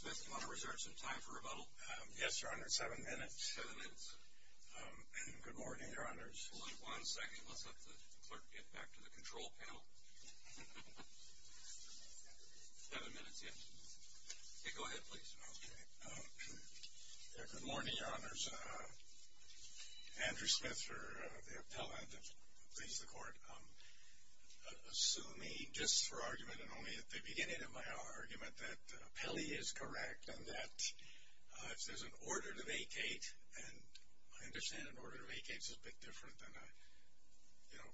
Smith, do you want to reserve some time for rebuttal? Yes, Your Honor. Seven minutes. Seven minutes. Good morning, Your Honors. One second. Let's have the clerk get back to the control panel. Seven minutes yet. Go ahead, please. Okay. Good morning, Your Honors. Andrew Smith for the appellant. Please, the Court. Sue me just for argument and only at the beginning of my argument that appellee is correct and that there's an order to vacate and I understand an order to vacate is a bit different than a, you know,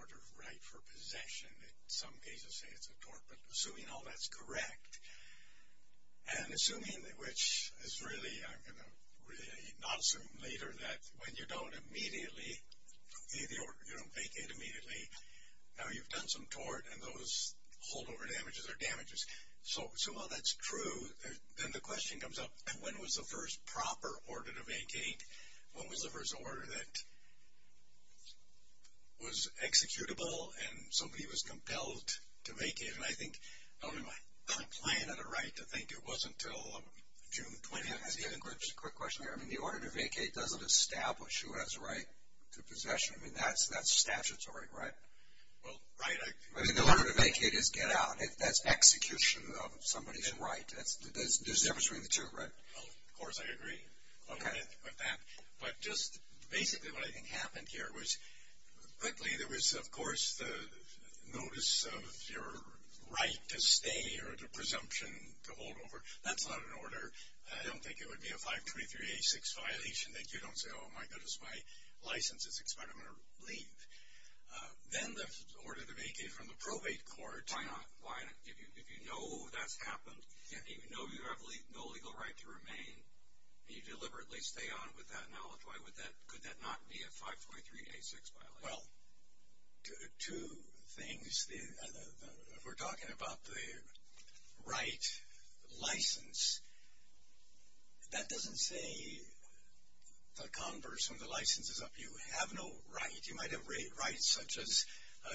order of right for possession. Some cases say it's a tort, but assuming all that's correct and assuming which is really, I'm going to really not assume later that when you don't immediately vacate immediately, now you've done some tort and those holdover damages are damages. So while that's true, then the question comes up, when was the first proper order to vacate? When was the first order that was executable and somebody was compelled to vacate? And I think, I don't know if I'm playing at it right to think it wasn't until June 20th. Just a quick question here. I mean, the order to vacate doesn't establish who has the right to possession. I mean, that's statutory, right? Well, right. I mean, the order to vacate is get out. That's execution of somebody's right. There's a difference between the two, right? Of course, I agree with that. But just basically, what I think happened here was quickly there was, of course, the notice of your right to stay or the presumption to holdover. That's not an order. I don't think it would be a 523 86 violation that you don't say, oh my goodness, my license is expired. I'm going to leave. Then the order to vacate from the probate court. Why not? If you know that's happened, if you know you have no legal right to remain, and you deliberately stay on with that knowledge, why would that, could that not be a 523 86 violation? Well, two things. If we're talking about the right license, that doesn't say the converse when the license is up. You have no right. You might have rights such as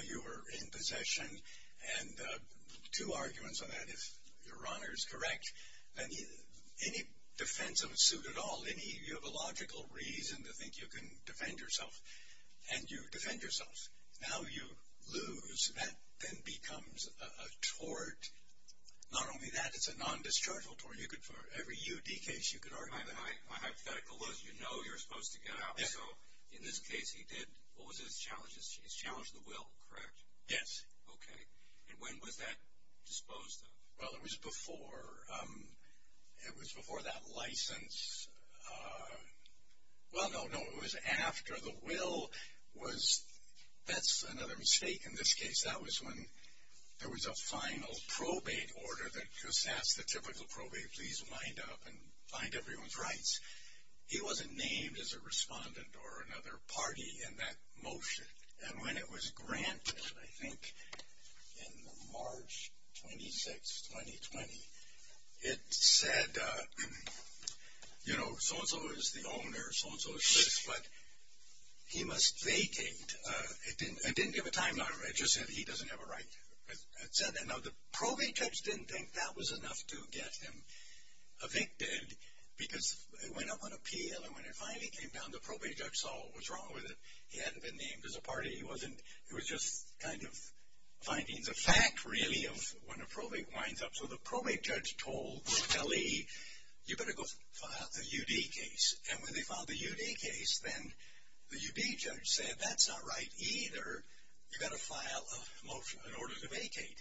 you were in possession and two arguments on that. If your honor is correct, then any defense of a suit at all, you have a logical reason to think you can defend yourself. And you defend yourself. Now you lose. That then becomes a tort. Not only that, every UD case, you could argue that. My hypothetical was, you know you're supposed to get out. So, in this case he did, what was his challenge? He challenged the will, correct? Yes. Okay. And when was that disposed of? Well, it was before it was before that license. Well, no, no. It was after the will was, that's another mistake in this case. That was when there was a final probate order that just asked the typical probate, please wind up and find everyone's rights. He wasn't named as a respondent or another party in that motion. And when it was granted, I think in March 26, 2020 it said, you know, so and so is the owner, so and so is this, but he must vacate. It didn't give a time it just said he doesn't have a right. It said that. Now the probate judge didn't think that was enough to get him evicted, because it went up on appeal, and when it finally came down, the probate judge saw what's wrong with it. He hadn't been named as a party, he wasn't it was just kind of findings of fact, really, of when a probate winds up. So the probate judge told L.E., you better go file the U.D. case. And when they filed the U.D. case, then the U.D. judge said, that's not right either. You gotta file a motion in order to vacate.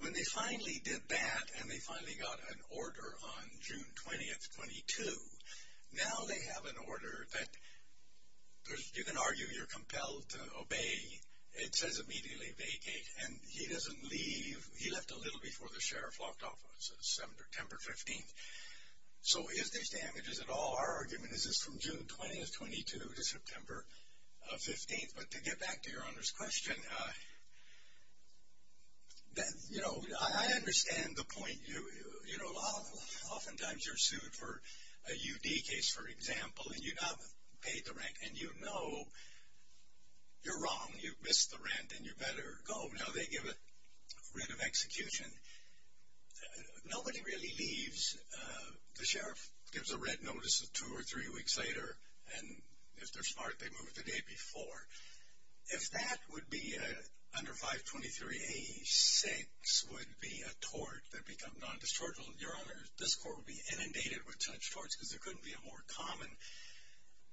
When they finally did that, and they finally got an order on June 20th, 22, now they have an order that you can argue you're compelled to obey. It says immediately vacate, and he doesn't leave. He left a little before the sheriff locked off on September 15th. So is this damages at all? Our argument is it's from June 20th, 22 to September 15th. But to get back to your Honor's question, you know, I understand the point. You know, often times you're sued for a U.D. case, for example, and you haven't paid the rent, and you know you're wrong. You missed the rent, and you better go. Now they give a writ of execution. Nobody really leaves. The sheriff gives a writ notice two or three weeks later, and if they're smart, they move the day before. If that would be under 523A6, would be a tort that becomes non-distortable, your Honor, this court would be inundated with such torts because there couldn't be a more common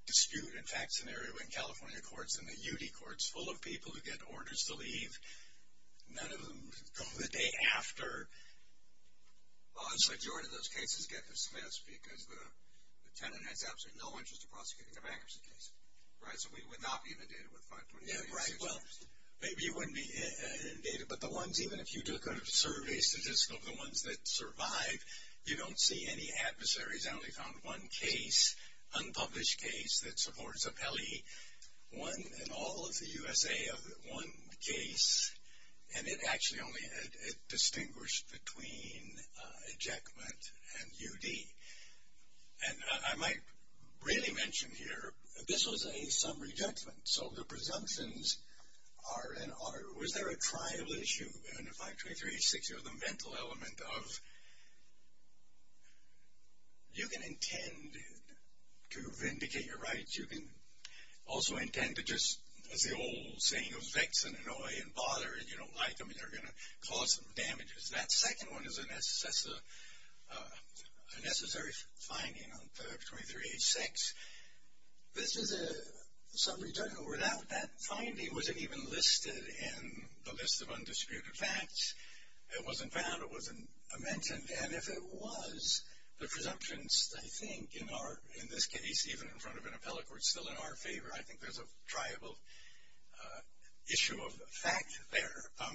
dispute and fact scenario in California courts than the U.D. courts, full of people who get orders to leave. None of them go the day after. The majority of those cases get dismissed because the tenant has absolutely no interest in prosecuting a bankruptcy case. Right, so we would not be inundated with 523A6 torts. Maybe you wouldn't be inundated, but the ones, even if you took a survey statistic of the ones that survive, you don't see any adversaries. I only found one case, unpublished case that supports appellee. One in all of the USA of one case, and it actually only distinguished between ejectment and U.D. And I might really mention here, this was a summary judgment, so the presumptions are was there a trial issue in 523A6 or the mental element of you can intend to vindicate your rights, you can also intend to just, as the old saying goes, vex and annoy and bother and you don't like them and they're going to cause some damages. That second one is a necessary finding on 523A6. This is a summary judgment. Without that finding, was it even listed in the list of undisputed facts? It wasn't found, it wasn't mentioned and if it was, the presumptions I think in our, in this case, even in front of an appellate court, still in our favor, I think there's a triable issue of fact there.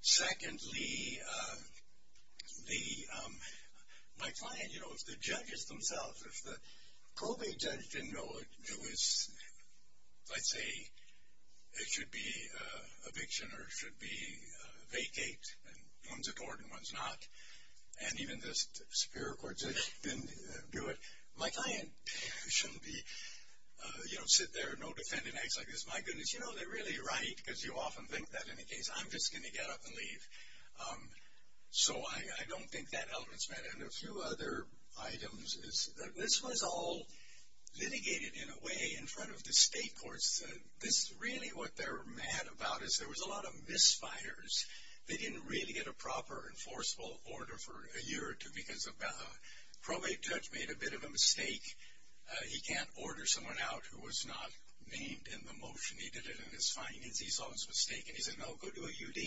Secondly, the my client, you know, the judges themselves, if the probate judge didn't know it was let's say it should be eviction or it should be vacate and one's accord and one's not and even the superior court judge didn't do it, my client shouldn't be you know, sit there, no defendant acts like this, my goodness, you know, they're really right because you often think that in a case I'm just going to get up and leave. So I don't think that element's met and a few other items, this was all litigated in a way in front of the state courts that this really what they're mad about is there was a lot of misfires they didn't really get a proper enforceable order for a year or two because the probate judge made a bit of a mistake, he can't order someone out who was not named in the motion, he did it in his findings, he saw his mistake and he said no, go to a U.D.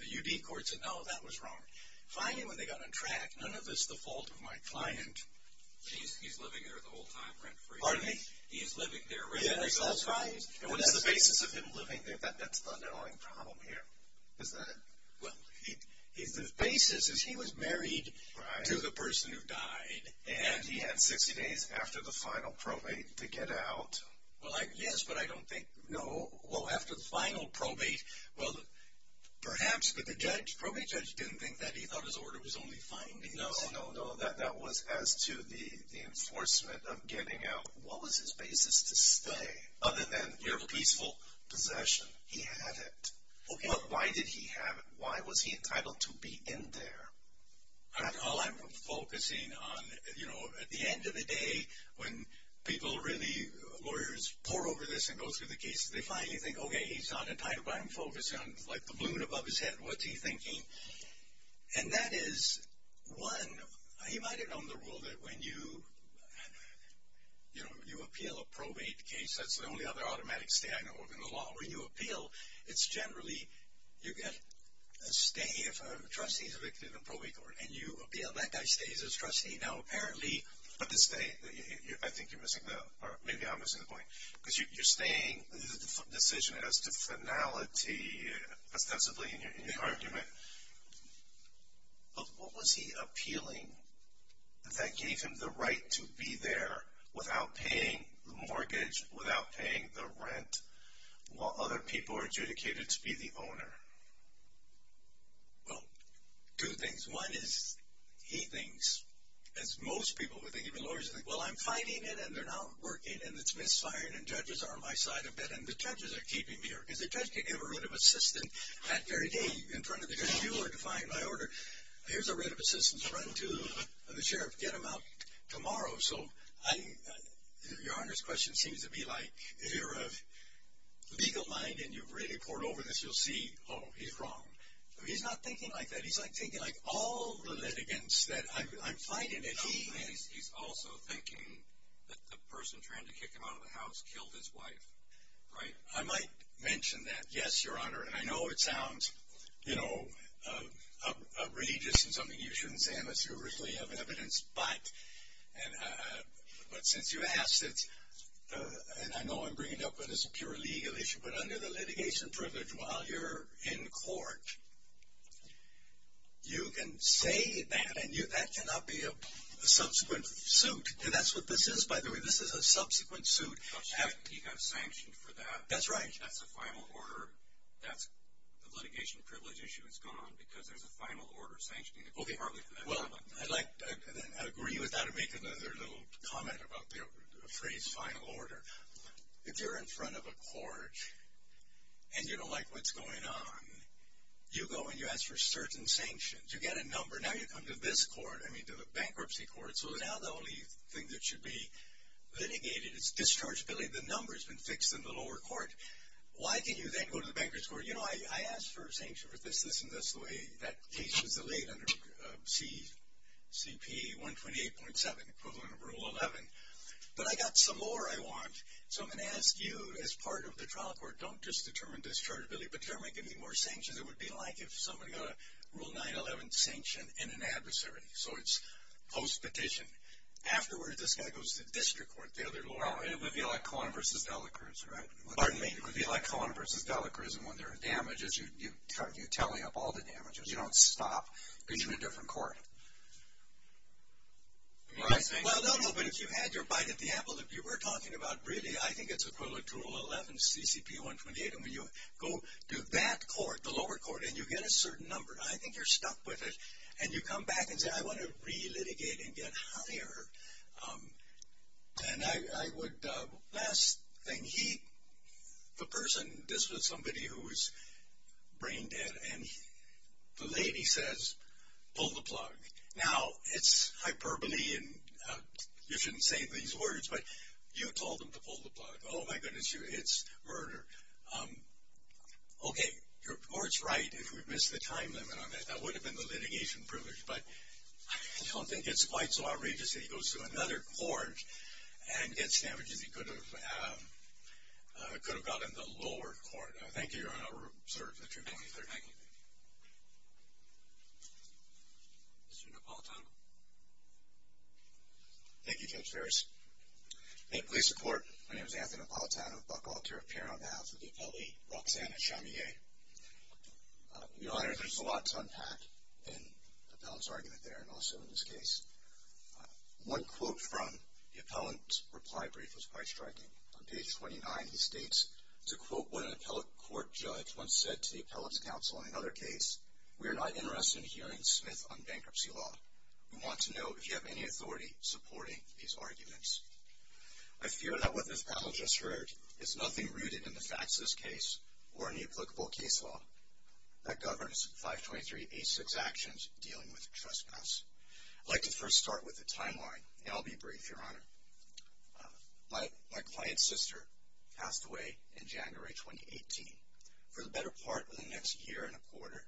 The U.D. court said no, that was wrong. Finally when they got on track, none of this is the fault of my client. He's living there the whole time rent free. Pardon me? He's living there rent free. And what's the basis of him living there? That's the underlying problem here. Is that it? Well, the basis is he was married to the person who died and he had 60 days after the final probate to get out. Yes, but I don't think, no, well, after the final probate, well, perhaps, but the judge, probate judge didn't think that, he thought his order was only findings. No, no, no, that was as to the enforcement of getting out. What was his basis to stay? Other than your peaceful possession. He had it. But why did he have it? Why was he entitled to be in there? Well, I'm focusing on, you know, at the end of the day, when people really, lawyers pour over this and go through the cases, they finally think, okay, he's not entitled, but I'm focusing on, like, the balloon above his head. What's he thinking? And that is one, he might have known the rule that when you, you know, you appeal a probate case, that's the only other automatic stay I know of in the law. When you appeal, it's generally, you get a stay if a trustee is evicted in probate court. And you appeal, that guy stays as trustee. Now, apparently, but the stay, I think you're missing the, or maybe I'm missing the point. Because you're staying, this is the decision as to finality ostensibly in your argument. But what was he appealing that gave him the right to be there without paying the mortgage, without paying the rent, while other people are adjudicated to be the owner? Well, two things. One is, he thinks, as most people would think, even lawyers would think, well, I'm fighting it, and they're not working, and it's misfiring, and judges are on my side a bit, and the judges are keeping me here. Because the judge can give a writ of assistance that very day in front of the judge. You are defying my order. Here's a writ of assistance. Run to the sheriff. Get him out tomorrow. So, I, Your Honor's question seems to be like, if you're of legal mind, and you've really poured over this, you'll see, oh, he's wrong. He's not thinking like that. He's thinking like all the litigants that, I'm fighting it. He's also thinking that the person trying to kick him out of the house killed his wife, right? I might mention that, yes, Your Honor, and I know it sounds, you know, uh, uh, uh, religious and something you shouldn't say, I'm a steward of evidence, but, and, uh, but since you asked it, uh, and I know I'm bringing it up, but it's a pure legal issue, but under the litigation privilege, while you're in court, you can say that, and you, that cannot be a subsequent suit. And that's what this is, by the way. This is a subsequent suit. He got sanctioned for that. That's right. That's a final order. The litigation privilege issue is gone because there's a final order sanctioning it. Well, I'd like to agree with that and make another little comment about the phrase final order. If you're in front of a court, and you don't like what's going on, you go and you ask for certain sanctions. You get a number. Now you come to this court, I mean, the bankruptcy court, so now the only thing that should be litigated is dischargeability. The number's been fixed in the lower court. Why can you then go to the bankruptcy court? You know, I asked for sanctions for this, this, and this, the way that case was delayed under C, C.P. 128.7, equivalent of Rule 11. But I got some more I want. So I'm going to ask you, as part of the trial court, don't just determine dischargeability, but generally give me more sanctions. It would be like if somebody got a Rule 9-11 sanction in an adversary, so it's post-petition. Afterward, this guy goes to the district court, the other lower court. Well, it would be like Cohen v. Delacruz, right? Pardon me? It would be like Cohen v. Delacruz, and when there are damages, you're tallying up all the damages. You don't stop because you're in a different court. Well, no, no, but if you had your bite at the apple that you were talking about, really, I think it's equivalent to Rule 11, C.C.P. 128, and when you go to that court, the lower court, and you get a certain number, I think you're stuck with it. And you come back and say, I want to re-litigate and get higher. And I would, last thing, he, the person, this was somebody who was brain-dead, and the lady says, pull the plug. Now, it's hyperbole, and you shouldn't say these words, but you told him to pull the plug. Oh, my goodness you, it's murder. Okay, your court's right if we missed the time limit on that. That would have been the litigation privilege, but I don't think it's quite so outrageous that he goes to another court and gets damages he could have gotten in the lower court. Thank you, Your Honor. We're adjourned. Thank you. Mr. Napolitano? Thank you, Judge Ferris. Thank you for your support. My name is Anthony Napolitano, Buck Altura, appearing on behalf of the appellee, Roxanna Chamier. Your Honor, there's a lot to unpack in the appellant's argument there, and also in this case. One quote from the appellant's reply brief was quite striking. On page 29, he states to quote what an appellate court judge once said to the appellant's counsel in another case, we are not interested in hearing Smith on bankruptcy law. We want to know if you have any authority supporting these arguments. I fear that what this appellant just heard is nothing rooted in the facts of this case or any applicable case law that governs 523 86 actions dealing with trespass. I'd like to first start with the timeline, and I'll be brief, Your Honor. sister passed away in January 2018. For the better part of the next year and a quarter,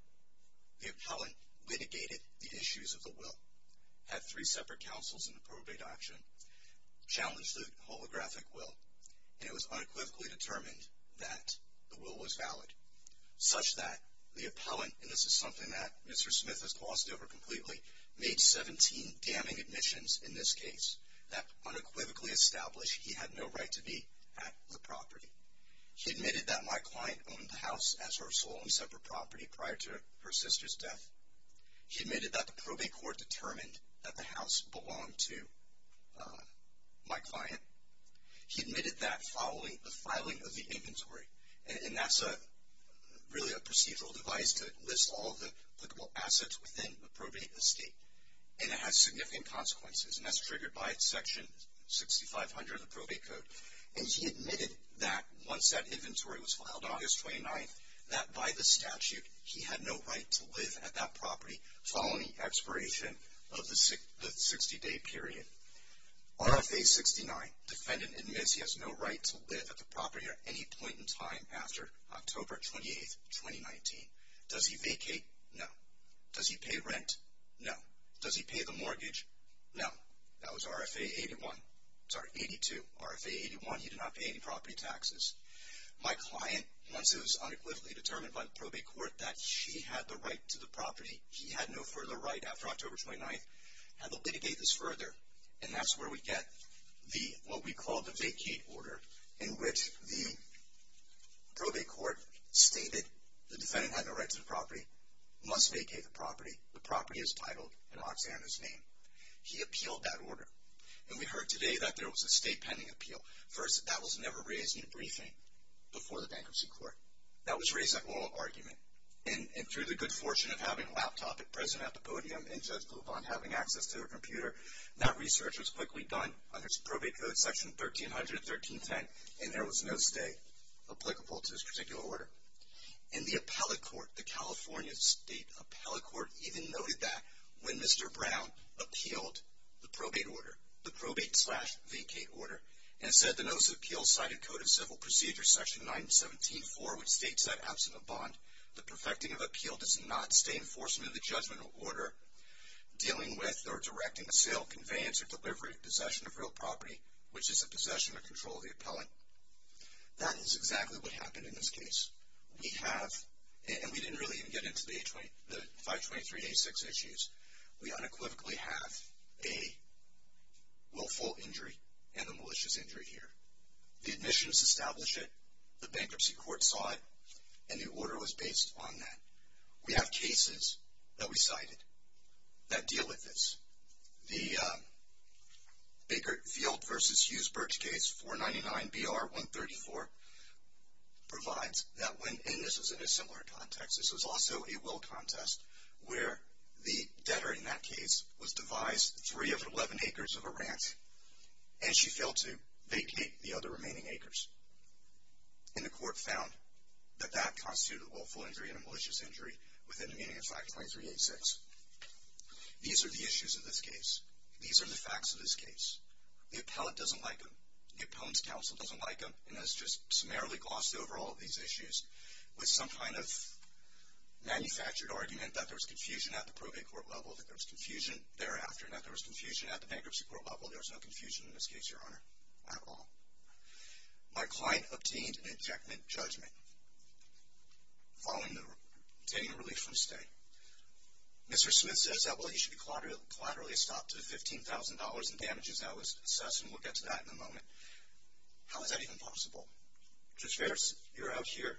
the appellant litigated the issues of the will, had three separate counsels in the probate action, challenged the holographic will, and it was unequivocally determined that the will was valid, such that the appellant, and this is something that Mr. Smith has glossed over completely, made 17 damning admissions in this case that unequivocally established he had no right to be at the property. He admitted that my client owned the house as her sole and separate property prior to her sister's death. He admitted that the probate court determined that the house belonged to my client. He admitted that following the filing of the inventory, and that's really a procedural device to list all of the assets within the probate estate. And it has significant consequences, and that's triggered by section 6500 of the probate code. And he admitted that once that by the statute, he had no right to live at that property following the expiration of the 60-day period. RFA 69, defendant admits he has no right to live at the property at any point in time after October 28, 2019. Does he vacate? No. Does he pay rent? No. Does he pay the mortgage? No. That was RFA 81. Sorry, 82. RFA 81, he did not pay any property taxes. My client, once it was unequivocally determined by the probate court that she had the right to the property, he had no further right after October 29, had to litigate this further. And that's where we get what we call the vacate order, in which the probate court stated the defendant had no right to the property, must vacate the property, the property is titled in Oksana's name. He appealed that order. And we heard today that there was a state pending appeal. First, that was never raised in a briefing before the bankruptcy court. That was raised at oral argument. And through the good fortune of having a laptop at present at the podium and Judge Blupond having access to her computer, that research was quickly done under Probate Code Section 1300-1310 and there was no stay applicable to this particular order. And the appellate court, the California State Appellate Court, even noted that when Mr. Brown appealed the probate order, the notice of appeal cited Code of Civil Procedure Section 917-4, which states that absent a bond, the perfecting of appeal does not stay in enforcement of the judgment of order, dealing with or directing the sale, conveyance, or delivery of possession of real property, which is the possession or control of the appellant. That is exactly what happened in this case. We have, and we didn't really even get into the 523-A6 issues, we unequivocally have a willful injury and a malicious injury here. The admissions established it, the bankruptcy court saw it, and the order was based on that. We have cases that we cited that deal with this. The Baker Field v. Hughes-Birch case 499-BR-134 provides that when, and this was in a similar context, this was also a will contest where the debtor in that case was devised three of eleven acres of a ranch and she failed to vacate the other remaining acres. And the court found that that constituted a willful injury and a malicious injury within the meaning of 523-A6. These are the issues of this case. These are the facts of this case. The appellant doesn't like them. The appellant's counsel doesn't like them and has just summarily glossed over all of these issues with some kind of manufactured argument that there was confusion at the probate court level, that there was confusion thereafter, and that there was confusion at the bankruptcy court level. There was no confusion in this case, Your Honor, at all. My client obtained an injectment judgment following the obtaining a relief from the state. Mr. Smith says, I believe you should be collaterally estopped to $15,000 in damages that was assessed, and we'll get to that in a moment. How is that even possible? You're out here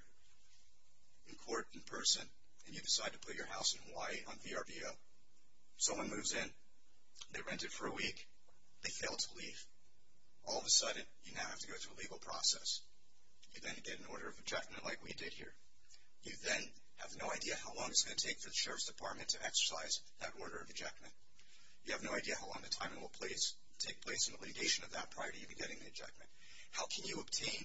in court, in person, and you decide to leave your house in Hawaii on VRBO. Someone moves in, they rent it for a week, they fail to leave. All of a sudden, you now have to go through a legal process. You then get an order of ejectment like we did here. You then have no idea how long it's going to take for the Sheriff's Department to exercise that order of ejectment. You have no idea how long the timing will take place in the litigation of that prior to you getting the ejectment. How can you obtain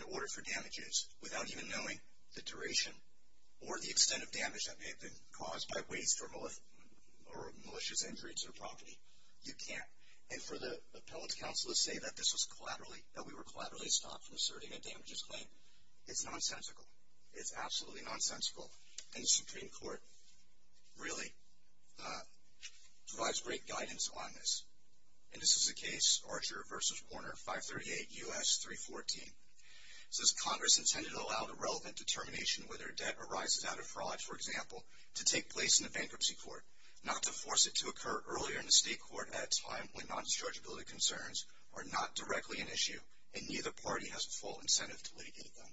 an order for damages without even knowing the duration or the extent of damage that may have been caused by waste or malicious injuries or property? You can't. And for the appellate counsel to say that this was that we were collaterally stopped from asserting a damages claim, it's nonsensical. It's absolutely nonsensical. And the Supreme Court really provides great guidance on this. And this is the case, Archer v. Warner, 538 U.S. 314. It says, Congress intended to allow the relevant determination whether a debt arises out of fraud, for example, to take place in the bankruptcy court, not to force it to occur earlier in the State Court at a time when non-dischargeability concerns are not directly an issue and neither party has full incentive to litigate them.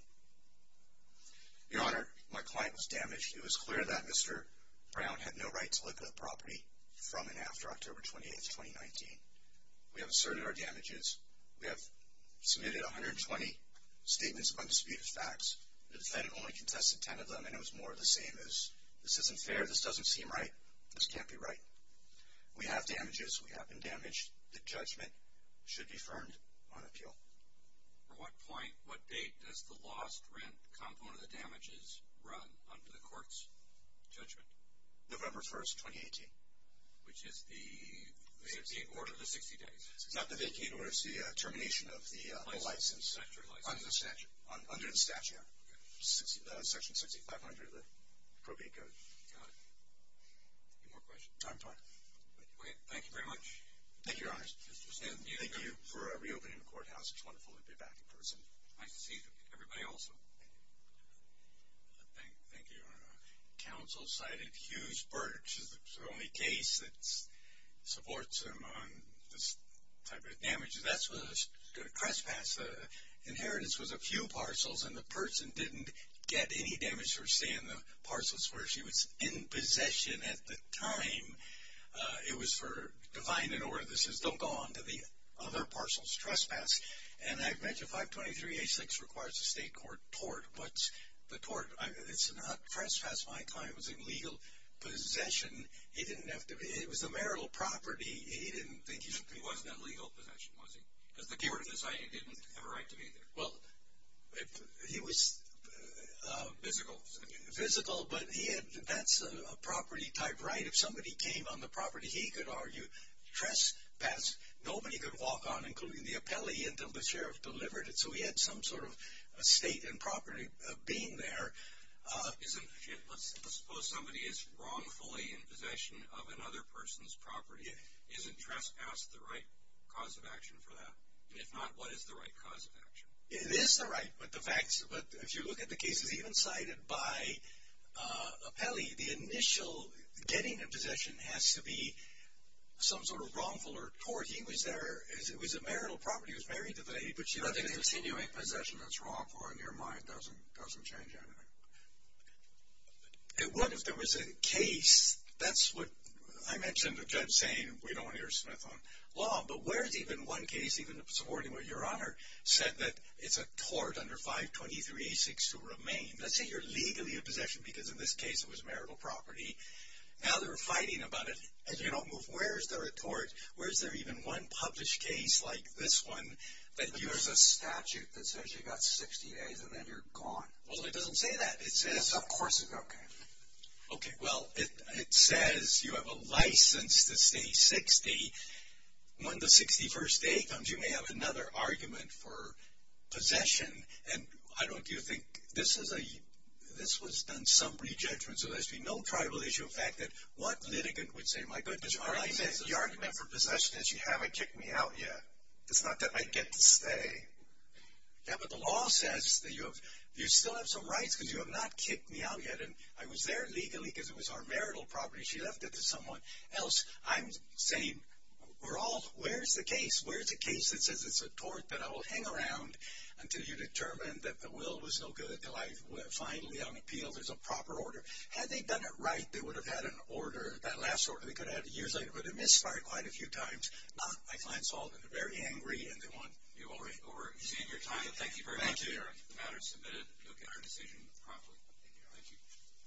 Your Honor, my client was damaged. It was clear that Mr. Brown had no right to look at the property from and after October 28, 2019. We have asserted our damages. We have submitted 120 statements of undisputed facts. The defendant only contested 10 of them and it was more of the same as, this isn't fair, this doesn't seem right, this can't be right. We have damages. We have been damaged. The judgment should be firmed on appeal. For what point, what date, does the lost rent component of the damages run under the court's judgment? November 1, 2018. Which is the vacate order of the 60 days. It's not the vacate order, it's the termination of the license. Under the statute? Under the statute, yeah. Section 6500, the appropriate code. Any more questions? Thank you very much. Thank you, Your Honor. Thank you for reopening the courthouse. It's wonderful to be back in person. Nice to see everybody also. Thank you, Your Honor. Counsel cited Hughes-Birch as the only case that supports him on this type of damage. That's a trespass. The inheritance was a few parcels and the person didn't get any damage for staying in the parcels where she was in possession at the time. It was for divine in order. This is, don't go on to the other parcels. Trespass. And I've mentioned 523-86 requires the state court tort. What's the tort? It's not trespass, my client was in legal possession. It was a marital property. He didn't think he was in that legal possession, was he? Because the keyword in this didn't have a right to be there. He was physical. Physical, but that's a property type right. If somebody came on the property he could argue trespass. Nobody could walk on, including the appellee until the sheriff delivered it. property being there. Let's suppose somebody is wrongfully in possession of another person's property. Isn't trespass the right cause of action for that? If not, what is the right cause of action? It is the right, but if you look at the cases even cited by appellee, the initial getting a possession has to be some sort of wrongful or tort. He was there, it was a marital property, he was married to the lady, but she left him there. I don't think there's any possession that's wrongful in your mind doesn't change anything. It would if there was a case, that's what I mentioned the judge saying we don't hear Smith on law, but where's even one case, even the subordinate with your honor, said that it's a tort under 523-862 remain. Let's say you're legally in possession because in this case it was marital property. Now they're fighting about it and you don't move. Where's there a tort? Where's there even one published case like this one that uses a statute that says you've got 60 days and then you're gone? Well it doesn't say that. Yes, of course it does. Okay, well it says you have a license to stay 60. When the 61st day comes you may have another argument for possession and I don't do you think this was done some re-judgment so there's been no tribal issue in fact that what litigant would say my goodness. The argument for possession is you haven't kicked me out yet. It's not that I get to stay. Yeah, but the law says that you still have some rights because you have not kicked me out yet and I was there legally because it was our marital property she left it to someone else. I'm saying where's the case? Where's the case that says it's a tort that I will hang around until you determine that the will was no good until I finally on appeal there's a proper order. Had they done it right they would have had an order, that last order they could have had years later but it misfired quite a few times. Not my client's fault. They're very angry and they want you over to save your time but thank you very much for the matter submitted. You'll get our decision promptly.